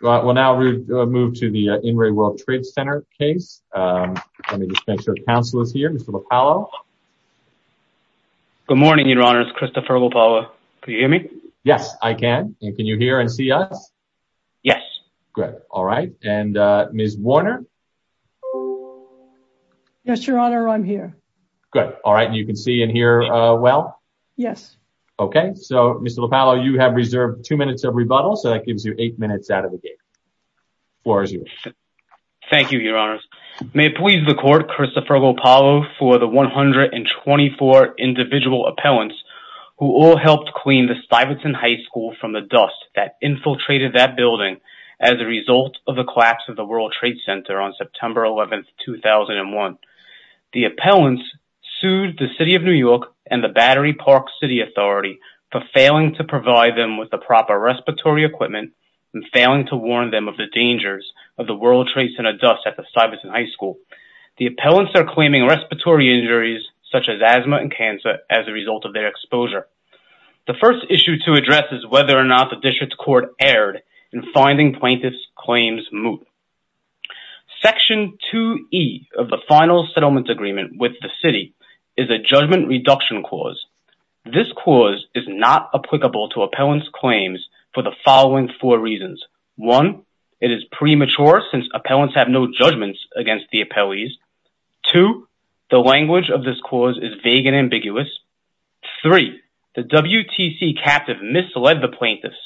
Well now we'll move to the In Re World Trade Center case. Let me just make sure counsel is here. Mr. Lopallo. Good morning, Your Honor. It's Christopher Lopallo. Can you hear me? Yes, I can. And can you hear and see us? Yes. Good. All right. And Ms. Warner? Yes, Your Honor. I'm here. Good. All right. And you can see and hear well? Yes. Okay. So, Mr. Lopallo, you have reserved two minutes of rebuttal, so that floor is yours. Thank you, Your Honors. May it please the Court, Christopher Lopallo, for the 124 individual appellants who all helped clean the Stuyvesant High School from the dust that infiltrated that building as a result of the collapse of the World Trade Center on September 11, 2001. The appellants sued the City of New York and the Battery Park City Authority for failing to provide them with the proper respiratory equipment and failing to warn them of the dangers of the World Trade Center dust at the Stuyvesant High School. The appellants are claiming respiratory injuries such as asthma and cancer as a result of their exposure. The first issue to address is whether or not the District Court erred in finding plaintiff's claims moot. Section 2E of the Final Settlement Agreement with the City is a judgment reduction clause. This clause is not applicable to appellants' claims for the following four reasons. One, it is premature since appellants have no judgments against the appellees. Two, the language of this clause is vague and ambiguous. Three, the WTC captive misled the plaintiffs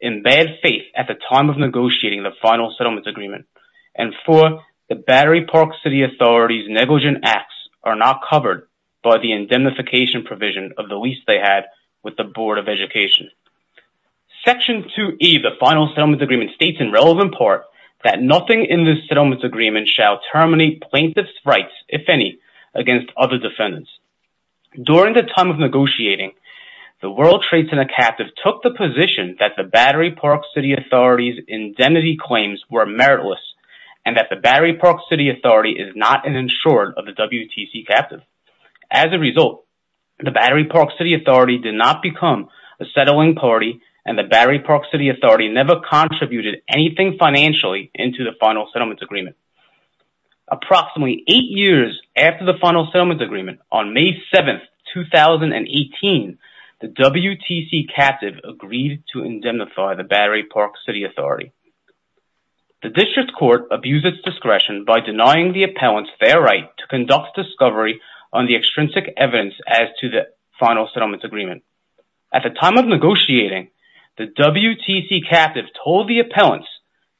in bad faith at the time of negotiating the Final Settlement Agreement. And four, the Battery Park City Authority's negligent acts are not covered by the indemnification provision of the lease they had with the Board of Education. Section 2E of the Final Settlement Agreement states, in relevant part, that nothing in this settlement agreement shall terminate plaintiff's rights, if any, against other defendants. During the time of negotiating, the World Trade Center captive took the position that the Battery Park City Authority's indemnity claims were meritless and that the Battery Park City Authority is not an insurer of the WTC captive. As a result, the Battery Park City Authority did not become a settling party and the Battery Park City Authority never contributed anything financially into the Final Settlement Agreement. Approximately eight years after the Final Settlement Agreement, on May 7, 2018, the WTC captive agreed to indemnify the Battery Park City Authority. The district court abused its discretion by denying the appellants their right to conduct discovery on the extrinsic evidence as to the Final Settlement Agreement. At the time of negotiating, the WTC captive told the appellants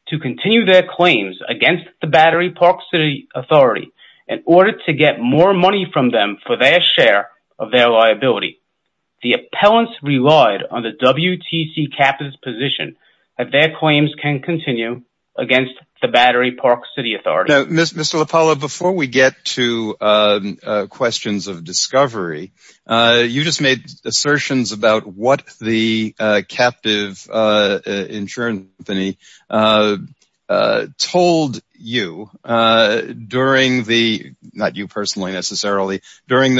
to continue their claims against the Battery Park City Authority in order to get more money from them for their share of their liability. The appellants relied on the WTC captive's position that their claims can continue against the Battery Park City Authority. Mr. LaPolla, before we get to questions of discovery, you just made assertions about what the captive insurance company told you during the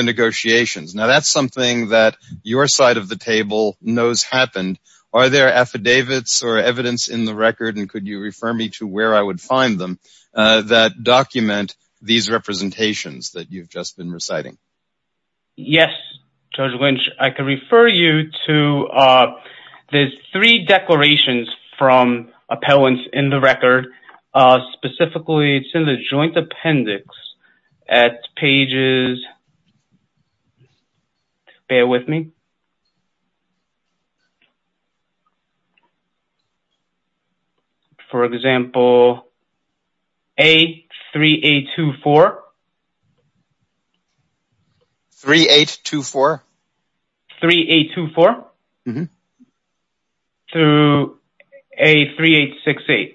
negotiations. Now, that's something that your side of the table knows happened. Are there affidavits or evidence in the record, and could you refer me to where I would find them, that document these representations that you've just been reciting? Yes, Judge Lynch, I could refer you to the three declarations from appellants in the record. Specifically, it's in the joint appendix at pages, bear with me. For example, A-3824. 3824? 3824, through A-3868.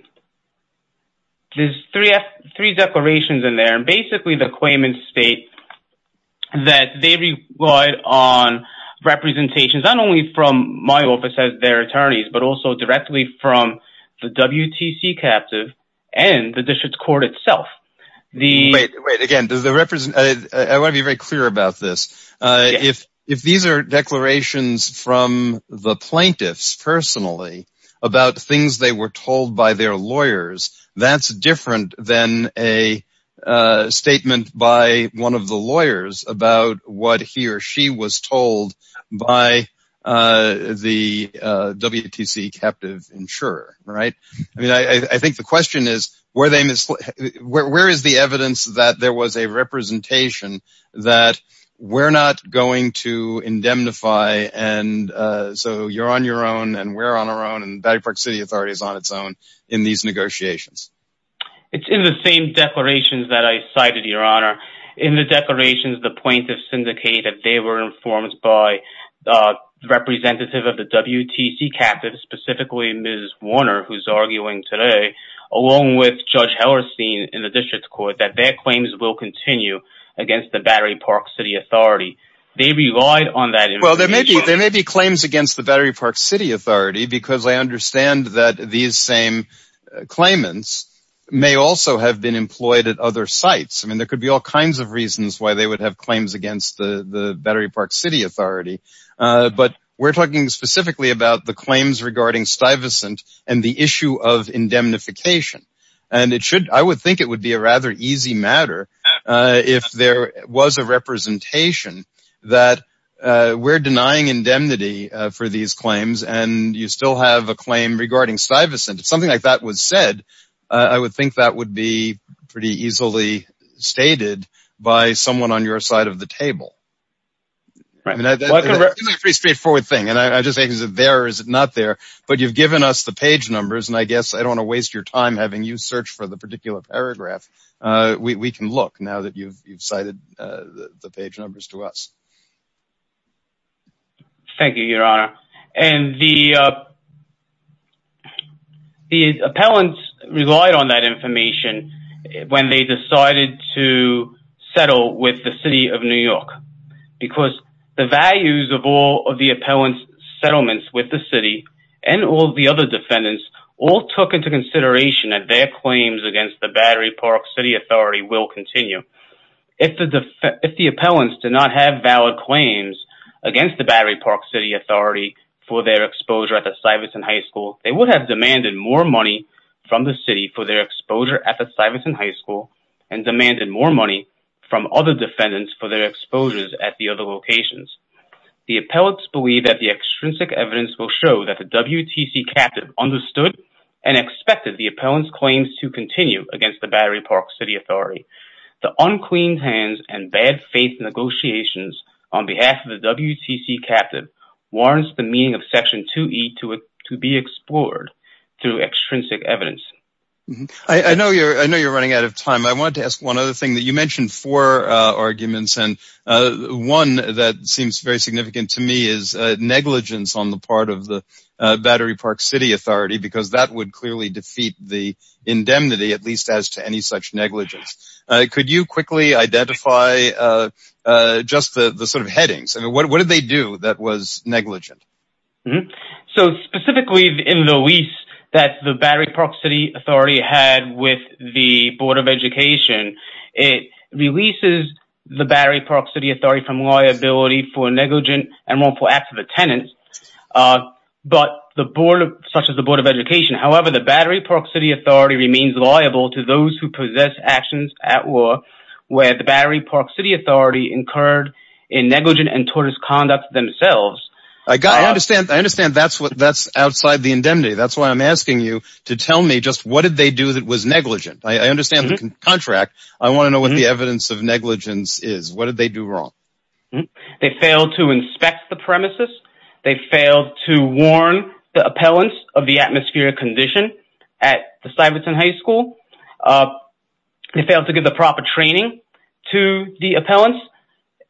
There's three declarations in there. Basically, the claimants state that they relied on representations, not only from my office as their attorneys, but also directly from the WTC captive and the district court itself. Again, I want to be very clear about this. If these are declarations from the plaintiffs personally about things they were told by their lawyers, that's different than a statement by one of the lawyers about what he or she was told by the WTC captive insurer. I think the question is, where is the evidence that there was a representation that we're not going to indemnify, and so you're on your own, and we're on our own, and Battery Park City Authority is on its own in these negotiations. It's in the same declarations that I cited, Your Honor. In the declarations, the plaintiffs syndicated they were informed by the representative of the WTC captive, specifically Ms. Warner, who's arguing today, along with Judge Hellerstein in the district court, that their claims will continue against the Battery Park City Authority. They relied on that. Well, there may be claims against the Battery Park City Authority because I understand that these same claimants may also have been employed at other sites. I mean, there could be all kinds of reasons why they would have claims against the Battery Park City Authority, but we're talking specifically about the claims regarding Stuyvesant and the issue of indemnification, and I would think it would be a rather easy matter if there was a representation that we're denying indemnity for these claims and you still have a claim regarding Stuyvesant. If something like that was said, I would think that would be pretty easily stated by someone on your side of the table. It's a pretty straightforward thing, and I just think is it there or is it not there, but you've given us the page numbers and I guess I don't want to you search for the particular paragraph. We can look now that you've cited the page numbers to us. Thank you, Your Honor, and the appellants relied on that information when they decided to settle with the City of New York because the values of all of the appellant's settlements with the City and all the other locations. The appellants believe that their claims against the Battery Park City Authority will continue. If the appellants did not have valid claims against the Battery Park City Authority for their exposure at the Stuyvesant High School, they would have demanded more money from the city for their exposure at the Stuyvesant High School and demanded more money from other defendants for their exposures at the other locations. The appellants believe that the extrinsic evidence will show that the WTC captive understood and expected the appellant's claims to continue against the Battery Park City Authority. The unclean hands and bad faith negotiations on behalf of the WTC captive warrants the meaning of Section 2e to be explored through extrinsic evidence. I know you're running out of time. I wanted to ask one other thing. You mentioned four arguments and one that seems very significant to me is negligence on the part of the Battery Park City Authority because that would clearly defeat the indemnity at least as to any such negligence. Could you quickly identify just the sort of headings and what did they do that was negligent? So specifically in the lease that the Battery Park City Authority had with the Board of Education, it releases the Battery Park City Authority from liability for negligent and wrongful acts of attendance such as the Board of Education. However, the Battery Park City Authority remains liable to those who possess actions at war where the Battery Park City Authority incurred a negligent and tortious conduct themselves. I understand that's outside the indemnity. That's why I'm asking you to tell me just what did they do that was negligent? I understand the contract. I want to know what the evidence of negligence is. What did they do wrong? They failed to inspect the premises. They failed to warn the appellants of the atmospheric condition at the Stuyvesant High School. They failed to give the proper training to the appellants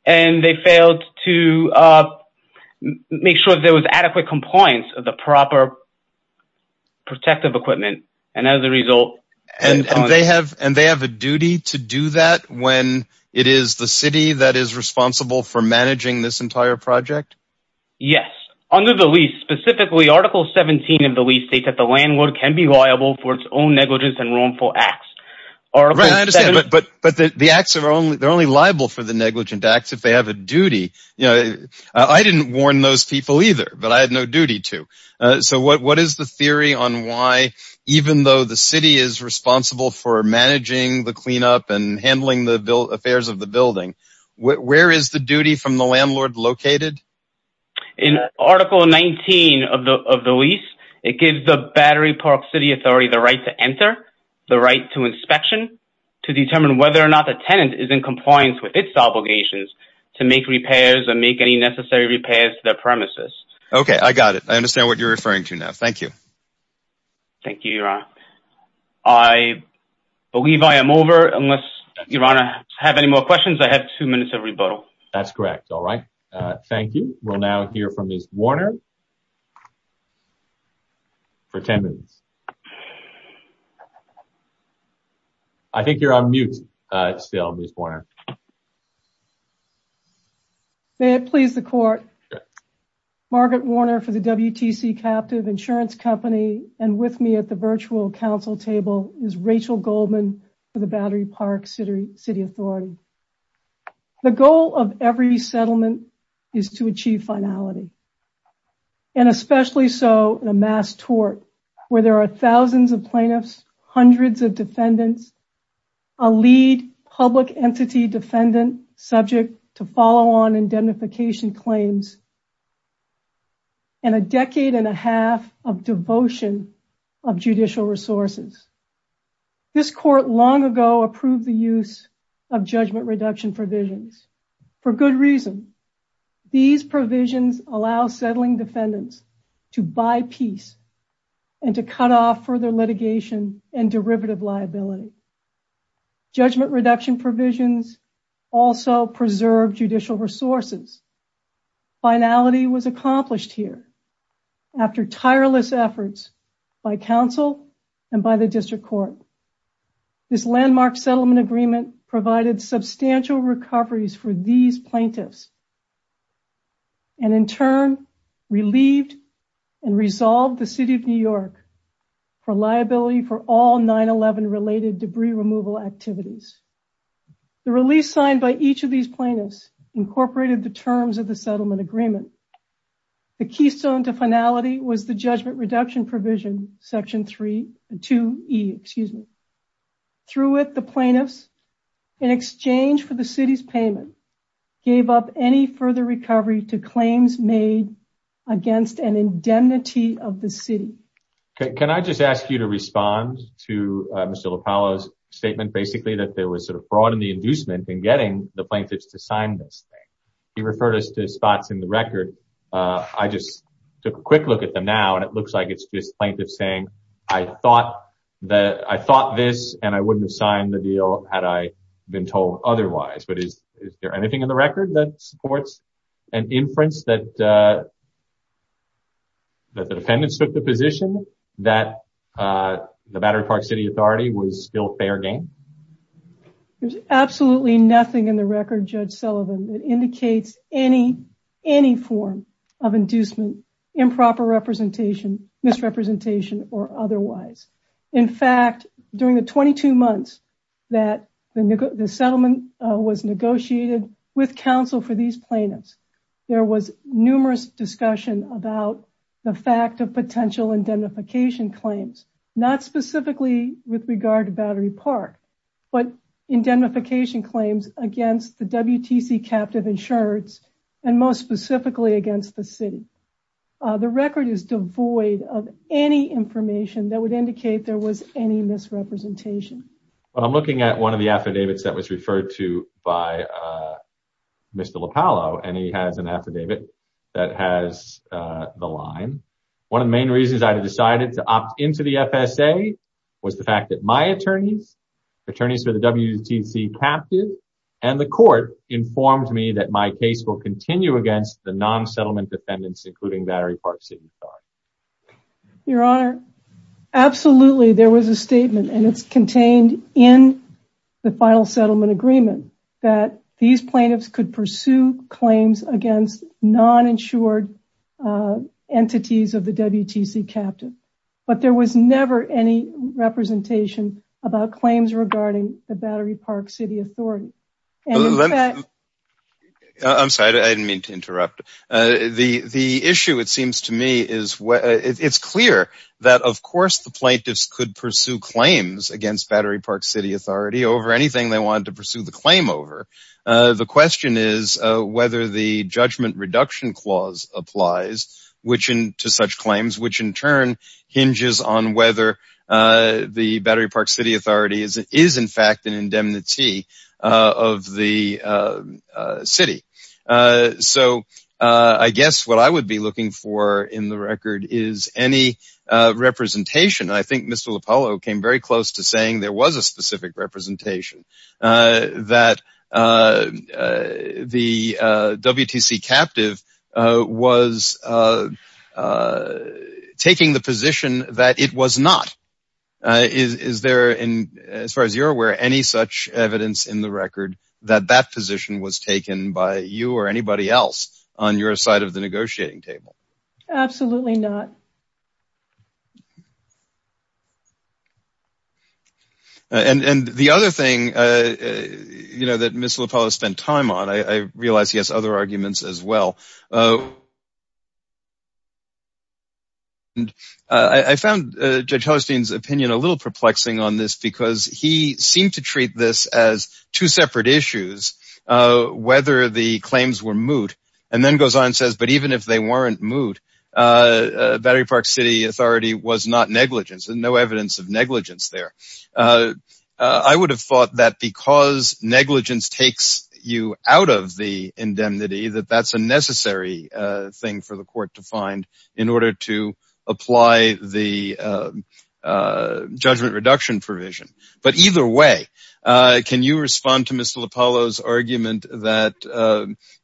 and they failed to make sure there was adequate compliance of the proper protective equipment and as a result... And they have a duty to do that when it is the city that is responsible for managing this entire project? Yes. Under the lease, specifically Article 17 of the lease states that the landlord can be liable for its own negligence and wrongful acts. But the acts are only liable for the negligent acts if they have a duty. I didn't warn those people either but I had no duty to. So what is the theory on why even though the city is responsible for managing the cleanup and handling the affairs of the building, where is the duty from the landlord located? In Article 19 of the lease, it gives the Battery Park City Authority the right to enter, the right to inspection, to determine whether or not the tenant is in compliance with its obligations to make repairs and make any necessary repairs to their premises. Okay, I got it. I understand what you're referring to now. Thank you. Thank you, Your Honor. I believe I am over unless Your Honor have any more questions. I have two minutes of rebuttal. That's correct. All right. Thank you. We'll now hear from Ms. Warner for 10 minutes. I think you're on mute still, Ms. Warner. May it please the court. Margaret Warner for the WTC Captive Insurance Company and with me at the virtual council table is Rachel Goldman for the Battery Park City Authority. The goal of every case is to ensure that there are thousands of plaintiffs, hundreds of defendants, a lead public entity defendant subject to follow-on indemnification claims, and a decade and a half of devotion of judicial resources. This court long ago approved the use of judgment reduction provisions for good reason. These provisions allow settling defendants further litigation and derivative liability. Judgment reduction provisions also preserve judicial resources. Finality was accomplished here after tireless efforts by council and by the district court. This landmark settlement agreement provided substantial recoveries for these plaintiffs and in turn relieved and resolved the City of New York for liability for all 9-11 related debris removal activities. The release signed by each of these plaintiffs incorporated the terms of the settlement agreement. The keystone to finality was the judgment reduction provision section 3 and 2e, excuse me. Through it the plaintiffs in exchange for the gave up any further recovery to claims made against an indemnity of the city. Okay can I just ask you to respond to Mr. LoPallo's statement basically that there was sort of fraud in the inducement in getting the plaintiffs to sign this thing. He referred us to spots in the record. I just took a quick look at them now and it looks like it's just plaintiffs saying I thought that I thought this and I wouldn't have signed the deal had I been told otherwise. But is there anything in the record that supports an inference that that the defendants took the position that the Battery Park City Authority was still fair game? There's absolutely nothing in the record Judge Sullivan that indicates any form of inducement, improper representation, misrepresentation or otherwise. In fact during the 22 months that the settlement was negotiated with counsel for these plaintiffs there was numerous discussion about the fact of potential indemnification claims not specifically with regard to Battery Park but indemnification claims against the WTC captive insurance and most specifically against the city. The record is devoid of any information that would indicate there was any misrepresentation. Well I'm looking at one of the affidavits that was referred to by Mr. Lopallo and he has an affidavit that has the line. One of the main reasons I decided to opt into the FSA was the fact that my attorneys, attorneys for the WTC captive and the court informed me that my case will continue against the non-settlement defendants including Battery Park City. Your Honor, absolutely there was a statement and it's contained in the final settlement agreement that these plaintiffs could pursue claims against non-insured entities of the WTC captive but there was never any representation about claims regarding the Battery Park City Authority. I'm sorry I didn't mean to interrupt. The issue it seems to me is where it's clear that of course the plaintiffs could pursue claims against Battery Park City Authority over anything they want to pursue the claim over. The question is whether the judgment reduction clause applies which in to such claims which in turn hinges on whether the Battery Park City Authority is in fact an of the city. So I guess what I would be looking for in the record is any representation. I think Mr Lopallo came very close to saying there was a specific representation that the WTC captive was taking the position that it was not. Is there in as far as you're aware any such evidence in the record that that position was taken by you or anybody else on your side of the negotiating table? Absolutely not. And the other thing you know that Mr. Lopallo spent time on, I realize he has other arguments as well. I found Judge Hellerstein's opinion a little perplexing on this because he seemed to treat this as two separate issues whether the claims were moot and then goes on and says but even if they weren't moot Battery Park City Authority was not negligence and no evidence of negligence there. I would have thought that because negligence takes you out of the indemnity that that's a necessary thing for the court to find in order to apply the reduction provision. But either way can you respond to Mr. Lopallo's argument that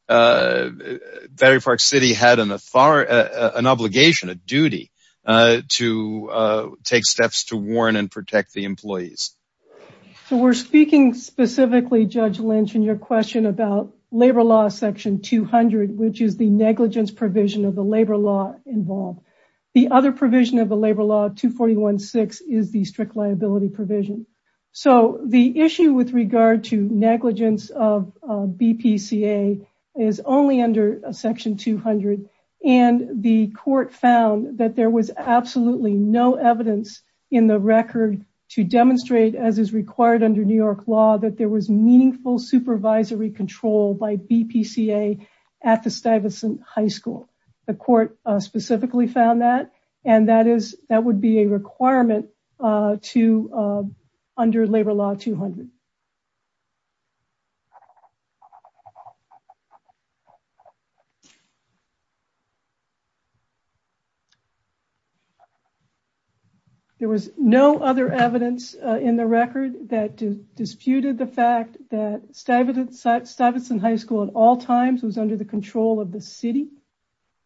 Battery Park City had an obligation, a duty to take steps to warn and protect the employees? So we're speaking specifically Judge Lynch in your question about Labor Law section 200 which is the negligence provision of the labor law involved. The other provision of the labor law 241.6 is the strict liability provision. So the issue with regard to negligence of BPCA is only under section 200 and the court found that there was absolutely no evidence in the record to demonstrate as is required under New York law that there was meaningful supervisory control by requirement to under Labor Law 200. There was no other evidence in the record that disputed the fact that Stuyvesant High School at all times was under the control of the city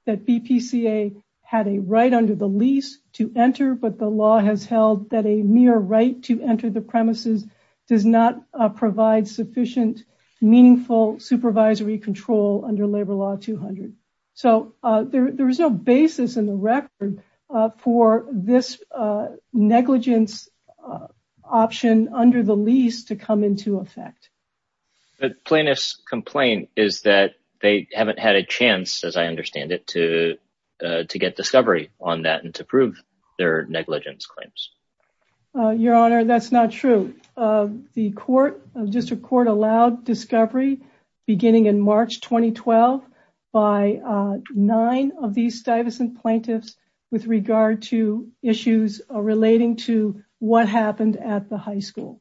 that BPCA had a right under the lease to enter but the law has held that a mere right to enter the premises does not provide sufficient meaningful supervisory control under Labor Law 200. So there is no basis in the record for this negligence option under the lease to come into effect. The plaintiff's complaint is that they haven't had a chance as I understand it to to get discovery on that and to prove their negligence claims. Your honor that's not true. The court of district court allowed discovery beginning in March 2012 by nine of these Stuyvesant plaintiffs with regard to issues relating to what happened at the high school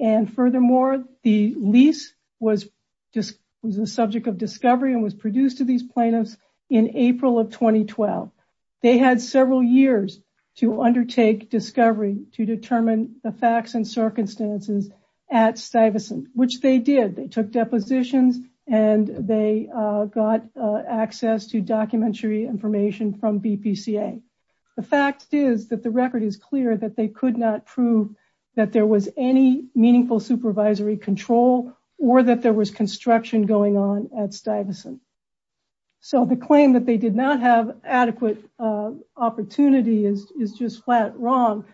and furthermore the lease was just was the subject of discovery and was not under the control of 2012. They had several years to undertake discovery to determine the facts and circumstances at Stuyvesant which they did. They took depositions and they got access to documentary information from BPCA. The fact is that the record is clear that they could not prove that there was any meaningful supervisory control or that there was construction going on at Stuyvesant. So the claim that they did not have adequate opportunity is is just flat wrong.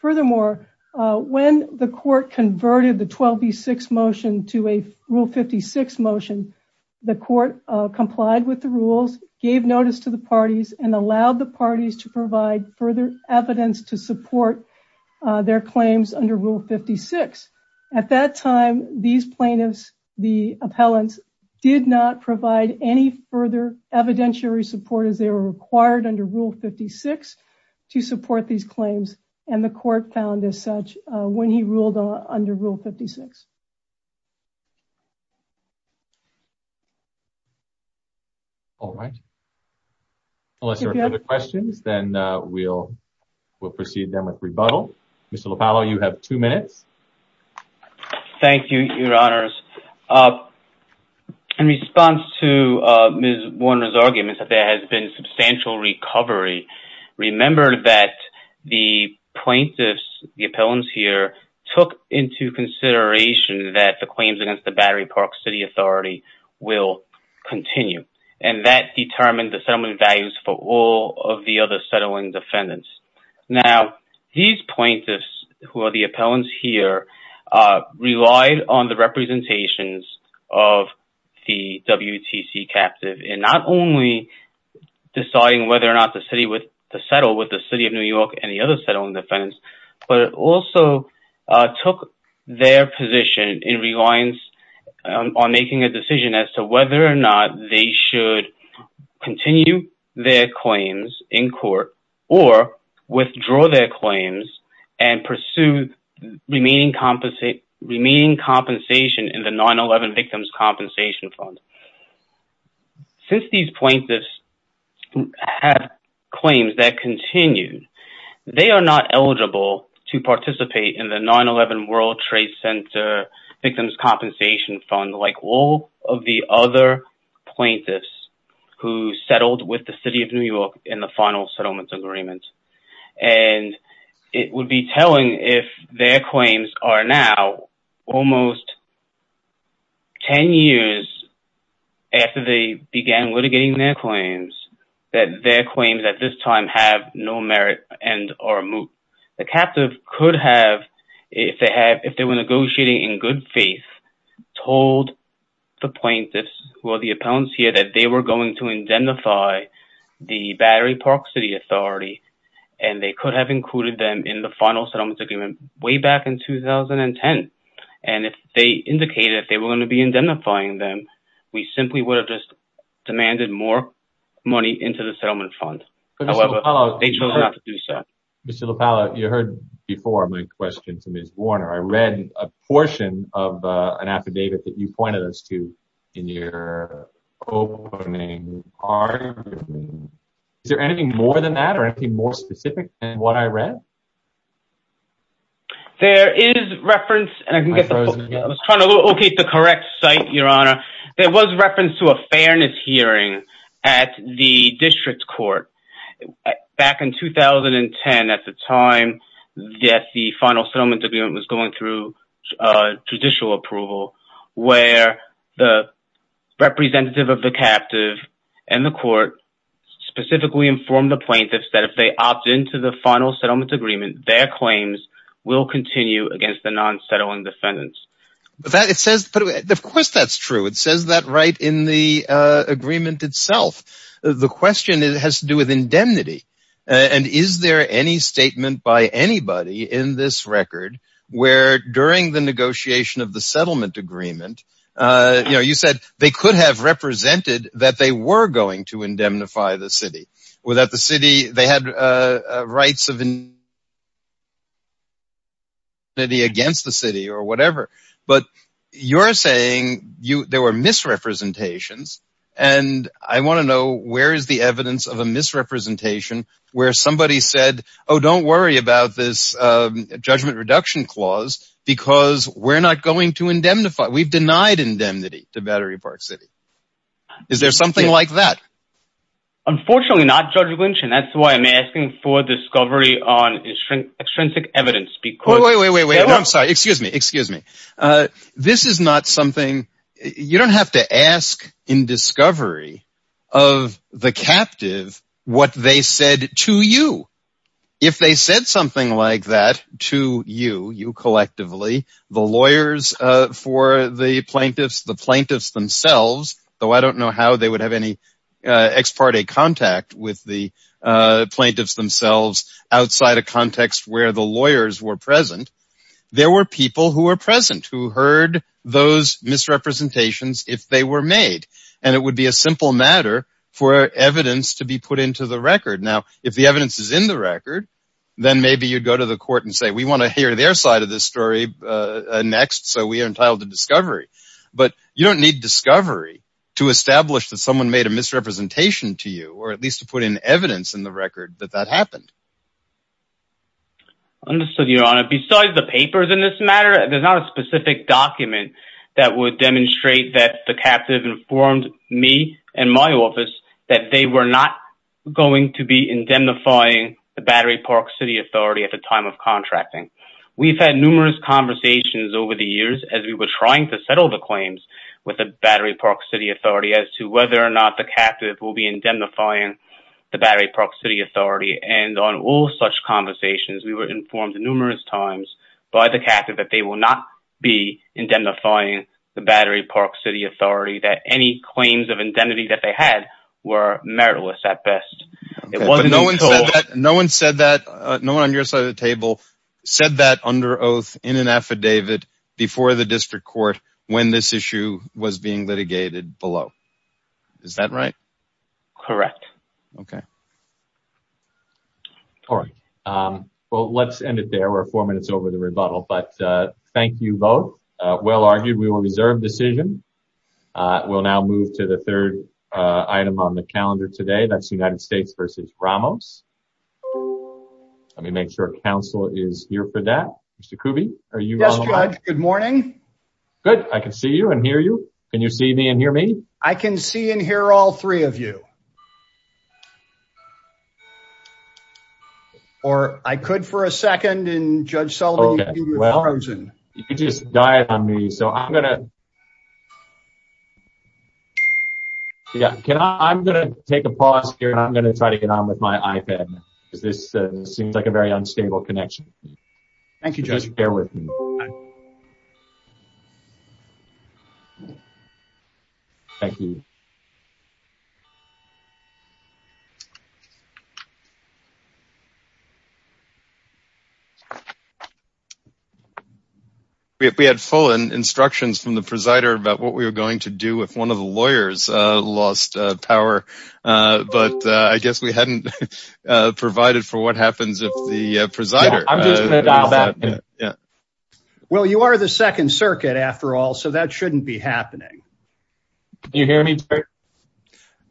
Furthermore when the court converted the 12b6 motion to a rule 56 motion the court complied with the rules gave notice to the parties and allowed the parties to provide further evidence to support their further evidentiary support as they were required under rule 56 to support these claims and the court found as such when he ruled under rule 56. All right unless there are other questions then we'll we'll proceed then with rebuttal. Mr. Lopallo you have two minutes. Thank you your honors. In response to Ms. Warner's arguments that there has been substantial recovery remember that the plaintiffs the appellants here took into consideration that the claims against the Battery Park City Authority will continue and that determined the settlement values for all of the other settling defendants. Now these plaintiffs who are the appellants here relied on the representations of the WTC captive in not only deciding whether or not the city would settle with the city of New York and the other settling defendants but also took their position in reliance on making a decision as to whether or not they should continue their claims in court or withdraw their claims and pursue remaining compensation in the 9-11 Victims Compensation Fund. Since these plaintiffs have claims that continue they are not eligible to participate in the 9-11 World Trade Center Victims Compensation Fund like all of the other plaintiffs who settled with the city of New York in the final settlement agreement and it would be telling if their claims are now almost 10 years after they began litigating their claims that their claims at this time have no merit and are moot. The captive could have if they have if they were negotiating in good faith told the plaintiffs who are the appellants here that they were going to indemnify the Battery Park City Authority and they could have included them in the final settlement agreement way back in 2010 and if they indicated if they were going to be indemnifying them we simply would have just demanded more money into the settlement fund. Mr. LaPalla you heard before my question to Ms. Warner. I read a portion of an affidavit that pointed us to in your opening argument. Is there anything more than that or anything more specific than what I read? There is reference and I was trying to locate the correct site your honor. There was reference to a fairness hearing at the district court back in 2010 at the time that the final settlement agreement was going through judicial approval where the representative of the captive and the court specifically informed the plaintiffs that if they opt into the final settlement agreement their claims will continue against the non-settling defendants. Of course that's true. It says that right in the agreement itself. The question has to do with indemnity and is there any statement by anybody in this record where during the negotiation of the settlement agreement you know you said they could have represented that they were going to indemnify the city or that the city they had rights of indemnity against the city or whatever but you're saying you there were misrepresentations and I want to know where is the evidence of a misrepresentation where somebody said oh don't worry about this judgment reduction clause because we're not going to indemnify we've denied indemnity to Battery Park City. Is there something like that? Unfortunately not Judge Lynch and that's why I'm asking for discovery on extrinsic evidence because... Wait wait wait I'm sorry excuse me excuse me. This is not something you don't have to ask in discovery of the captive what they said to you if they said something like that to you you collectively the lawyers for the plaintiffs the plaintiffs themselves though I don't know how they would have any ex parte contact with the plaintiffs themselves outside a context where the lawyers were present there were people who were present who heard those misrepresentations if they were made and it would be a simple matter for evidence to be put into the record now if the evidence is in the record then maybe you'd go to the court and say we want to hear their side of this story next so we are entitled to discovery but you don't need discovery to establish that someone made a misrepresentation to you or at least to put in evidence in the record that that happened. Understood your honor besides the papers in this matter there's not a specific document that would demonstrate that the captive informed me and my office that they were not going to be indemnifying the Battery Park City Authority at the time of contracting. We've had numerous conversations over the years as we were trying to settle the claims with the Battery Park City Authority as to whether or not the captive will be indemnifying the Battery Park City Authority and on all such conversations we were informed numerous times by the captive that they will not be indemnifying the Battery Park City Authority that any claims of indemnity that they had were meritless at best. No one said that no one on your side of the table said that under oath in an affidavit before the district court when this issue was being litigated below is that right? Correct. Okay all right well let's end it there we're four minutes over the rebuttal but thank you both well argued we will reserve decision we'll now move to the third item on the calendar today that's United States versus Ramos. Let me make sure council is here for that Mr. Kuby. Yes Judge good morning. Good I can see you and hear you can you see me and hear me? I can see and hear all three of you or I could for a second and Judge Sullivan. Okay well you just died on me so I'm gonna yeah can I I'm gonna take a pause here and I'm gonna try to get on with my iPad because this seems like a very unstable connection. Thank you Judge. Thank you. We had full instructions from the presider about what we were going to do if one of the lawyers lost power but I guess we hadn't provided for what happens if the presider. I'm just gonna dial back. Well you are the second circuit after all so that shouldn't be happening. Do you hear me?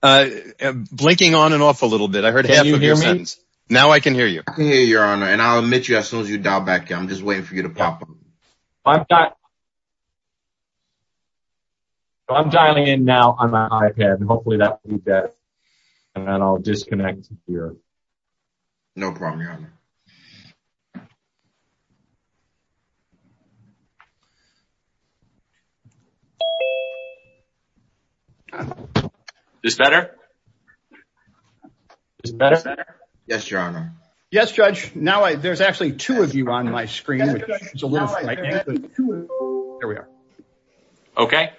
Blinking on and off a little bit I heard half of your sentence. Now I can hear you. I can hear your honor and I'll admit you as soon as you dial back I'm just waiting for you to pop up. I'm dialing in now on my iPad and hopefully that will be better and then I'll disconnect here. No problem your honor. This better? Yes your honor. Yes Judge now I there's actually two of you on my screen which is a little frightening. Here we are. Okay.